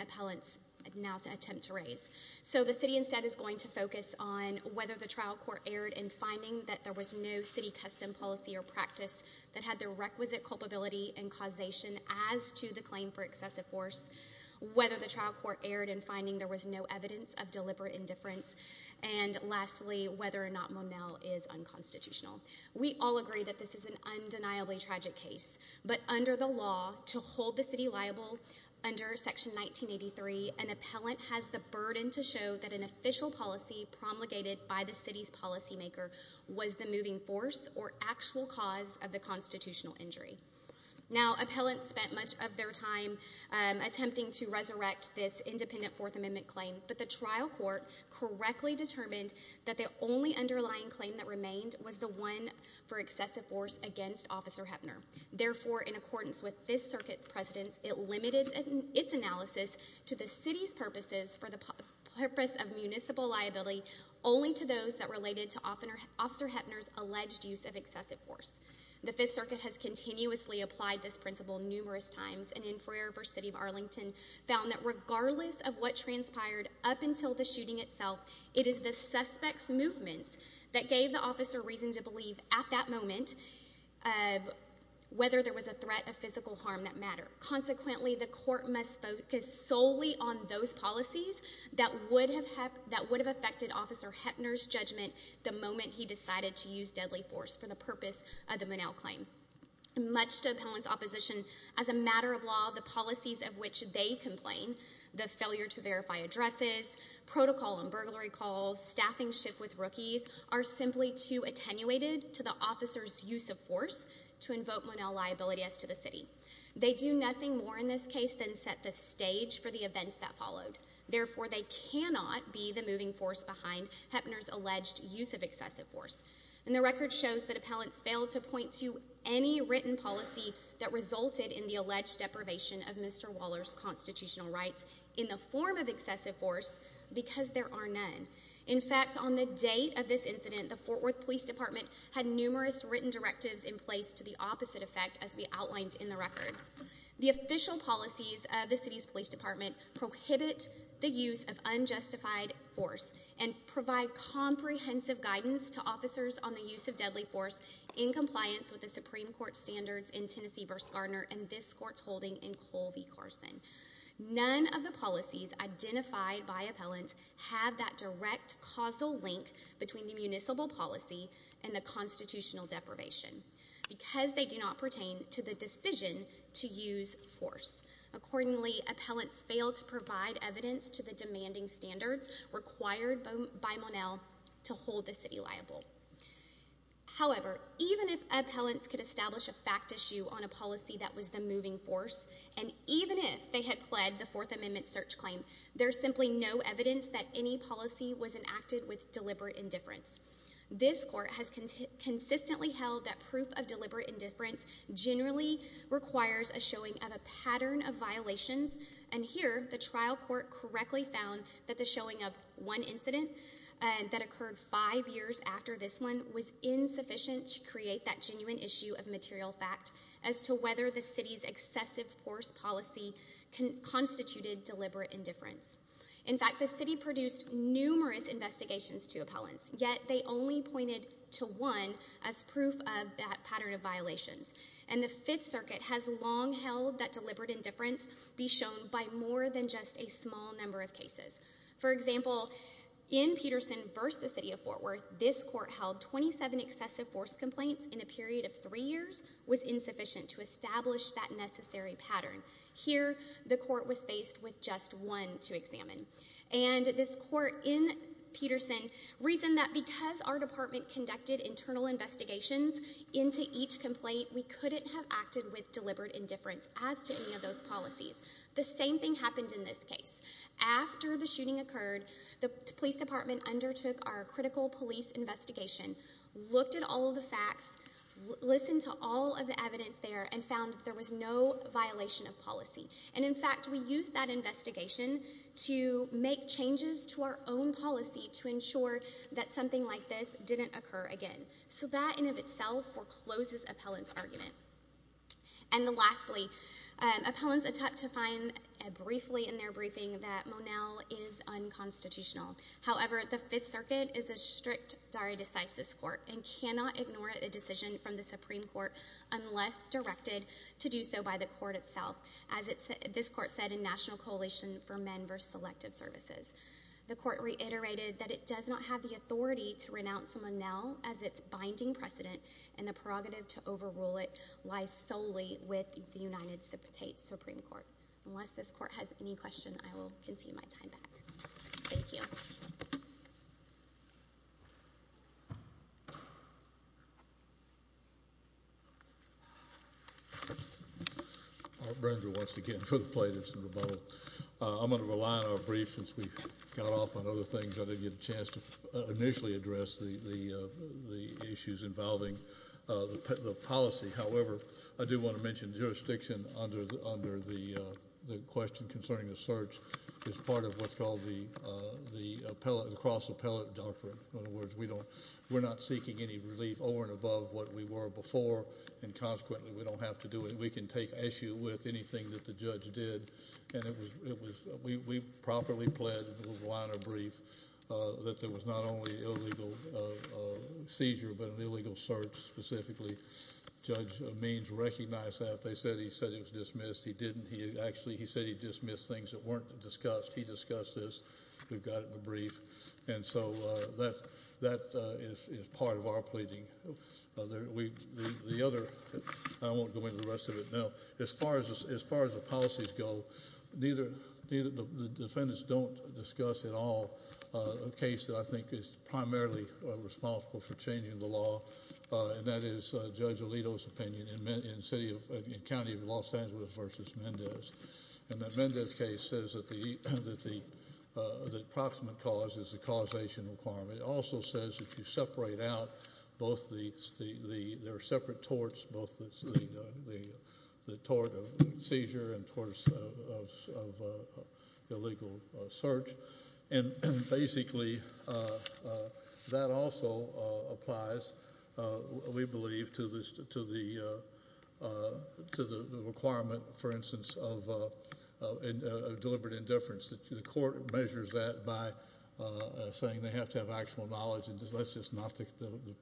appellants now attempt to raise. So the city instead is going to focus on whether the trial court erred in finding that there was no city custom policy or practice that had the requisite culpability and causation as to the claim for excessive force, whether the trial court erred in finding there was no evidence of deliberate indifference, and, lastly, whether or not Monell is unconstitutional. We all agree that this is an undeniably tragic case, but under the law, to hold the city liable under Section 1983, an appellant has the burden to show that an official policy promulgated by the city's policymaker was the moving force or actual cause of the constitutional injury. Now, appellants spent much of their time attempting to resurrect this independent Fourth Amendment claim, but the trial court correctly determined that the only underlying claim that remained was the one for excessive force against Officer Heppner. Therefore, in accordance with Fifth Circuit precedence, it limited its analysis to the city's purposes for the purpose of municipal liability, only to those that related to Officer Heppner's alleged use of excessive force. The Fifth Circuit has continuously applied this principle numerous times, and in Foyer v. City of Arlington found that regardless of what transpired up until the shooting itself, it is the suspect's movements that gave the officer reason to believe at that moment whether there was a threat of physical harm that mattered. Consequently, the court must focus solely on those policies that would have affected Officer Heppner's judgment the moment he decided to use deadly force for the purpose of the Monell claim. Much to appellants' opposition, as a matter of law, the policies of which they complain, the failure to verify addresses, protocol on burglary calls, staffing shift with rookies, are simply too attenuated to the officer's use of force to invoke Monell liability as to the city. They do nothing more in this case than set the stage for the events that followed. Therefore, they cannot be the moving force behind Heppner's alleged use of excessive force. And the record shows that appellants failed to point to any written policy that resulted in the alleged deprivation of Mr. Waller's constitutional rights in the form of excessive force because there are none. In fact, on the date of this incident, the Fort Worth Police Department had numerous written directives in place to the opposite effect as we outlined in the record. The official policies of the city's police department prohibit the use of unjustified force and provide comprehensive guidance to officers on the use of deadly force in compliance with the Supreme Court standards in Tennessee v. Gardner and this court's holding in Cole v. Carson. None of the policies identified by appellants have that direct causal link between the municipal policy and the constitutional deprivation because they do not pertain to the decision to use force. Accordingly, appellants failed to provide evidence to the demanding standards required by Monell to hold the city liable. However, even if appellants could establish a fact issue on a policy that was the moving force and even if they had pled the Fourth Amendment search claim, there's simply no evidence that any policy was enacted with deliberate indifference. This court has consistently held that proof of deliberate indifference generally requires a showing of a pattern of violations and here the trial court correctly found that the showing of one incident that occurred five years after this one was insufficient to create that genuine issue of material fact as to whether the city's excessive force policy constituted deliberate indifference. In fact, the city produced numerous investigations to appellants yet they only pointed to one as proof of that pattern of violations and the Fifth Circuit has long held that deliberate indifference be shown by more than just a small number of cases. For example, in Peterson v. The City of Fort Worth, this court held 27 excessive force complaints in a period of three years was insufficient to establish that necessary pattern. Here, the court was faced with just one to examine and this court in Peterson reasoned that because our department conducted internal investigations into each complaint, we couldn't have acted with deliberate indifference as to any of those policies. The same thing happened in this case. After the shooting occurred, the police department undertook our critical police investigation, looked at all the facts, listened to all of the evidence there and found that there was no violation of policy and in fact we used that investigation to make changes to our own policy to ensure that something like this didn't occur again. So that in of itself forecloses appellants' argument. And lastly, appellants attempt to find briefly in their briefing that Monel is unconstitutional. However, the Fifth Circuit is a strict dare decisis court and cannot ignore a decision from the Supreme Court unless directed to do so by the court itself. As this court said in National Coalition for Men versus Selective Services. The court reiterated that it does not have the authority to renounce Monel as its binding precedent and the prerogative to overrule it lies solely with the United States Supreme Court. Unless this court has any questions, I will concede my time back. Thank you. Thank you. I'm going to rely on our brief since we've got off on other things. I didn't get a chance to initially address the issues involving the policy. However, I do want to mention jurisdiction under the question concerning the search is part of what's called the cross-appellate doctrine. In other words, we're not seeking any relief over and above what we were before and consequently we don't have to do it. We can take issue with anything that the judge did. And we properly pled with a line of brief that there was not only an illegal seizure but an illegal search specifically. Judge Means recognized that. They said he said it was dismissed. He didn't. He actually said he dismissed things that weren't discussed. He discussed this. We've got it in the brief. And so that is part of our pleading. The other, I won't go into the rest of it now, as far as the policies go, the defendants don't discuss at all a case that I think is primarily responsible for changing the law, and that is Judge Alito's opinion in County of Los Angeles versus Mendez. And that Mendez case says that the approximate cause is the causation requirement. It also says that you separate out both the separate torts, both the tort of seizure and torts of illegal search. And basically that also applies, we believe, to the requirement, for instance, of deliberate indifference. The court measures that by saying they have to have actual knowledge, and that's just not the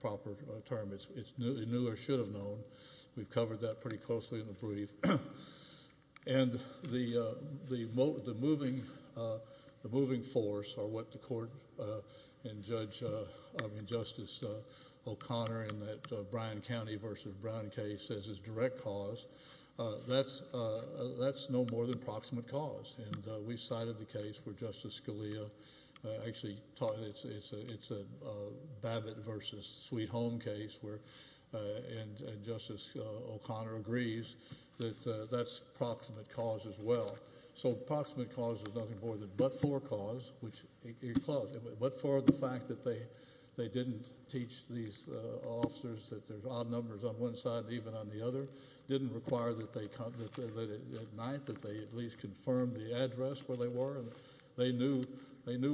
proper term. It's new or should have known. We've covered that pretty closely in the brief. And the moving force or what the court and Justice O'Connor in that Bryan County versus Bryan case says is direct cause, that's no more than approximate cause. And we cited the case where Justice Scalia actually taught it. It's a Babbitt versus Sweet Home case where Justice O'Connor agrees that that's proximate cause as well. So proximate cause is nothing more than but-for cause. But-for, the fact that they didn't teach these officers that there's odd numbers on one side and even on the other didn't require that at night that they at least confirm the address where they were. They knew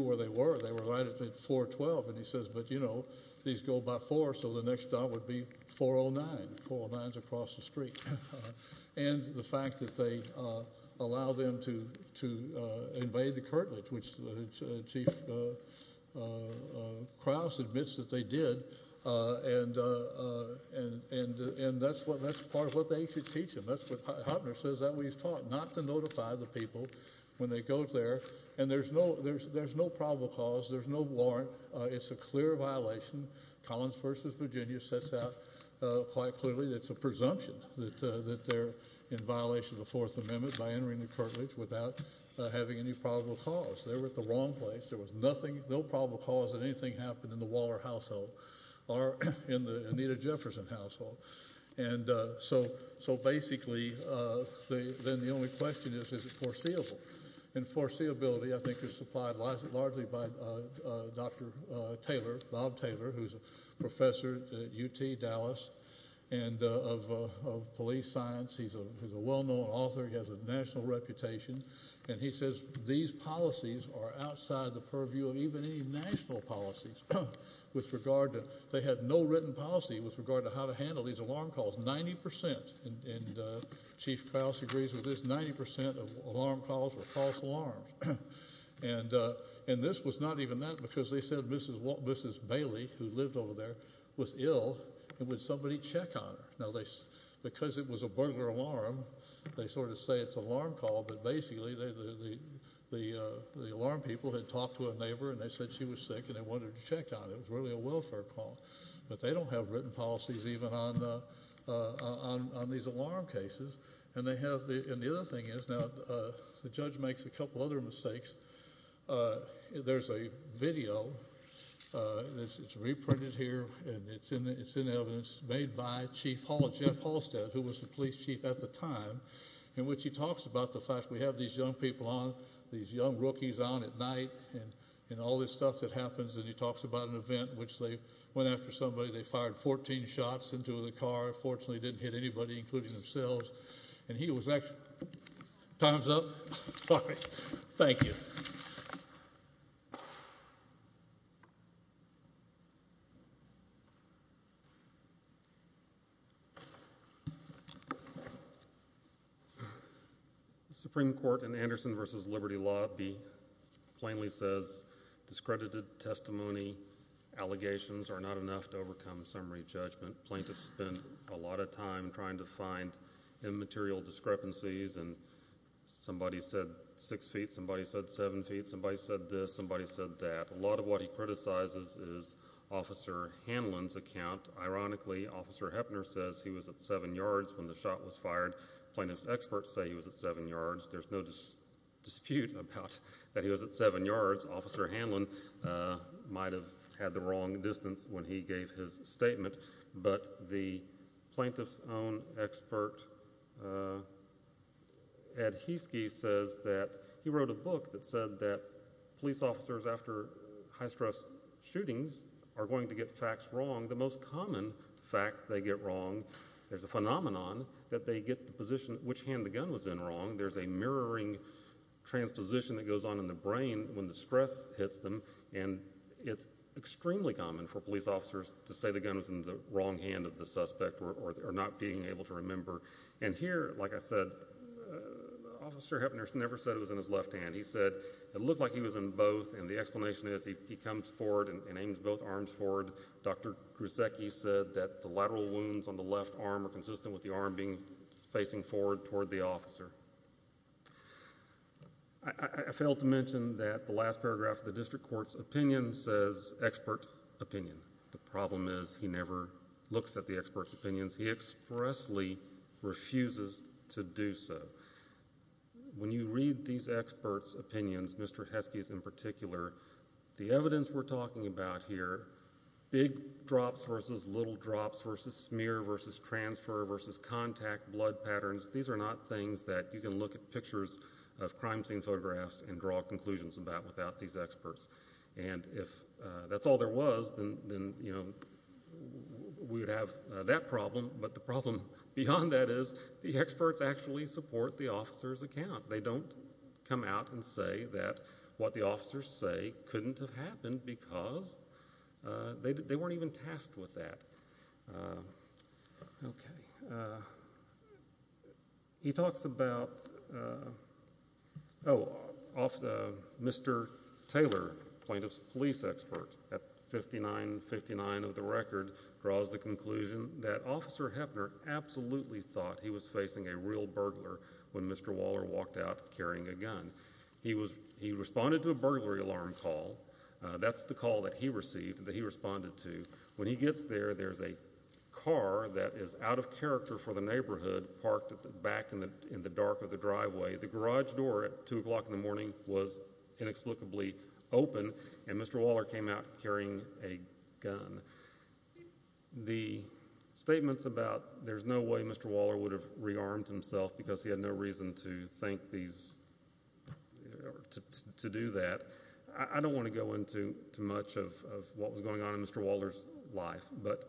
where they were. They were right at 412. And he says, but, you know, these go by four, so the next dot would be 409. And 409's across the street. And the fact that they allow them to invade the Kirtland, which Chief Krause admits that they did, and that's part of what they should teach them. That's what Hopner says that we've taught, not to notify the people when they go there. And there's no probable cause. There's no warrant. It's a clear violation. Collins v. Virginia sets out quite clearly that it's a presumption that they're in violation of the Fourth Amendment by entering the Kirtland without having any probable cause. They were at the wrong place. There was nothing, no probable cause that anything happened in the Waller household or in the Anita Jefferson household. And so basically then the only question is, is it foreseeable? And foreseeability, I think, is supplied largely by Dr. Taylor, Bob Taylor, who's a professor at UT Dallas, and of police science. He's a well-known author. He has a national reputation. And he says these policies are outside the purview of even any national policies with regard to they had no written policy with regard to how to handle these alarm calls. And Chief Krause agrees with this. Ninety percent of alarm calls were false alarms. And this was not even that because they said Mrs. Bailey, who lived over there, was ill and would somebody check on her. Now, because it was a burglar alarm, they sort of say it's an alarm call, but basically the alarm people had talked to a neighbor and they said she was sick and they wanted her checked on. It was really a welfare call. But they don't have written policies even on these alarm cases. And the other thing is, now the judge makes a couple other mistakes. There's a video that's reprinted here, and it's in evidence, made by Chief Hall, Jeff Halstead, who was the police chief at the time, in which he talks about the fact we have these young people on, these young rookies on at night, and all this stuff that happens. And he talks about an event in which they went after somebody. They fired 14 shots into the car. Fortunately, they didn't hit anybody, including themselves. And he was actually – time's up? Sorry. Thank you. Thank you. The Supreme Court in Anderson v. Liberty Law plainly says discredited testimony, allegations are not enough to overcome summary judgment. Plaintiffs spend a lot of time trying to find immaterial discrepancies, and somebody said six feet, somebody said seven feet, somebody said this, somebody said that. A lot of what he criticizes is Officer Hanlon's account. Ironically, Officer Heppner says he was at seven yards when the shot was fired. Plaintiffs' experts say he was at seven yards. There's no dispute about that he was at seven yards. Officer Hanlon might have had the wrong distance when he gave his statement. But the plaintiff's own expert, Ed Hiskey, says that he wrote a book that said that police officers, after high-stress shootings, are going to get facts wrong. The most common fact they get wrong, there's a phenomenon that they get the position at which hand the gun was in wrong. There's a mirroring transposition that goes on in the brain when the stress hits them, and it's extremely common for police officers to say the gun was in the wrong hand of the suspect or not being able to remember. And here, like I said, Officer Heppner never said it was in his left hand. He said it looked like he was in both, and the explanation is he comes forward and aims both arms forward. Dr. Krusecki said that the lateral wounds on the left arm are consistent with the arm facing forward toward the officer. I failed to mention that the last paragraph of the district court's opinion says expert opinion. The problem is he never looks at the expert's opinions. He expressly refuses to do so. When you read these expert's opinions, Mr. Hiskey's in particular, the evidence we're talking about here, big drops versus little drops versus smear versus transfer versus contact, blood patterns, these are not things that you can look at pictures of crime scene photographs and draw conclusions about without these experts. And if that's all there was, then we would have that problem, but the problem beyond that is the experts actually support the officer's account. They don't come out and say that what the officers say couldn't have happened because they weren't even tasked with that. He talks about Mr. Taylor, plaintiff's police expert, at 59-59 of the record, draws the conclusion that Officer Heppner absolutely thought he was facing a real burglar when Mr. Waller walked out carrying a gun. He responded to a burglary alarm call. That's the call that he received that he responded to. When he gets there, there's a car that is out of character for the neighborhood parked back in the dark of the driveway. The garage door at 2 o'clock in the morning was inexplicably open, and Mr. Waller came out carrying a gun. The statements about there's no way Mr. Waller would have rearmed himself because he had no reason to do that, I don't want to go into much of what was going on in Mr. Waller's life, but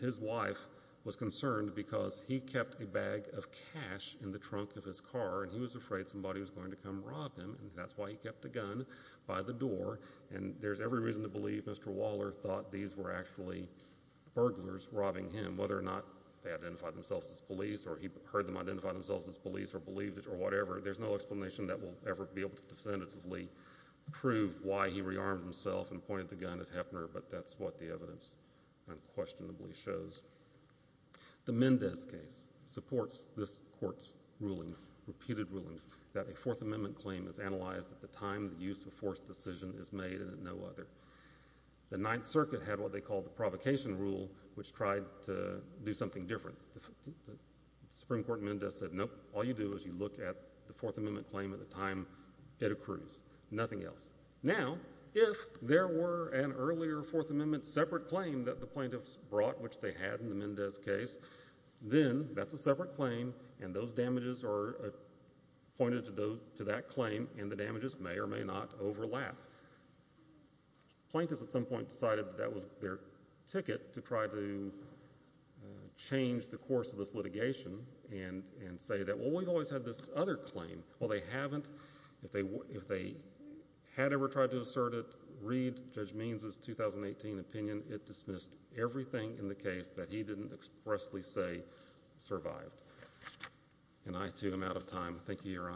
his wife was concerned because he kept a bag of cash in the trunk of his car and he was afraid somebody was going to come rob him, and that's why he kept the gun by the door. There's every reason to believe Mr. Waller thought these were actually burglars robbing him, whether or not they identified themselves as police or he heard them identify themselves as police or believed it or whatever. There's no explanation that will ever be able to definitively prove why he rearmed himself and pointed the gun at Hefner, but that's what the evidence unquestionably shows. The Mendez case supports this court's rulings, repeated rulings, that a Fourth Amendment claim is analyzed at the time the use of force decision is made and at no other. The Ninth Circuit had what they called the provocation rule, which tried to do something different. The Supreme Court in Mendez said, nope, all you do is you look at the Fourth Amendment claim at the time it accrues, nothing else. Now, if there were an earlier Fourth Amendment separate claim that the plaintiffs brought, which they had in the Mendez case, then that's a separate claim and those damages are pointed to that claim and the damages may or may not overlap. Plaintiffs at some point decided that that was their ticket to try to change the course of this litigation and say that, well, we've always had this other claim. Well, they haven't. If they had ever tried to assert it, read Judge Means' 2018 opinion, it dismissed everything in the case that he didn't expressly say survived. And I, too, am out of time. Thank you, Your Honors.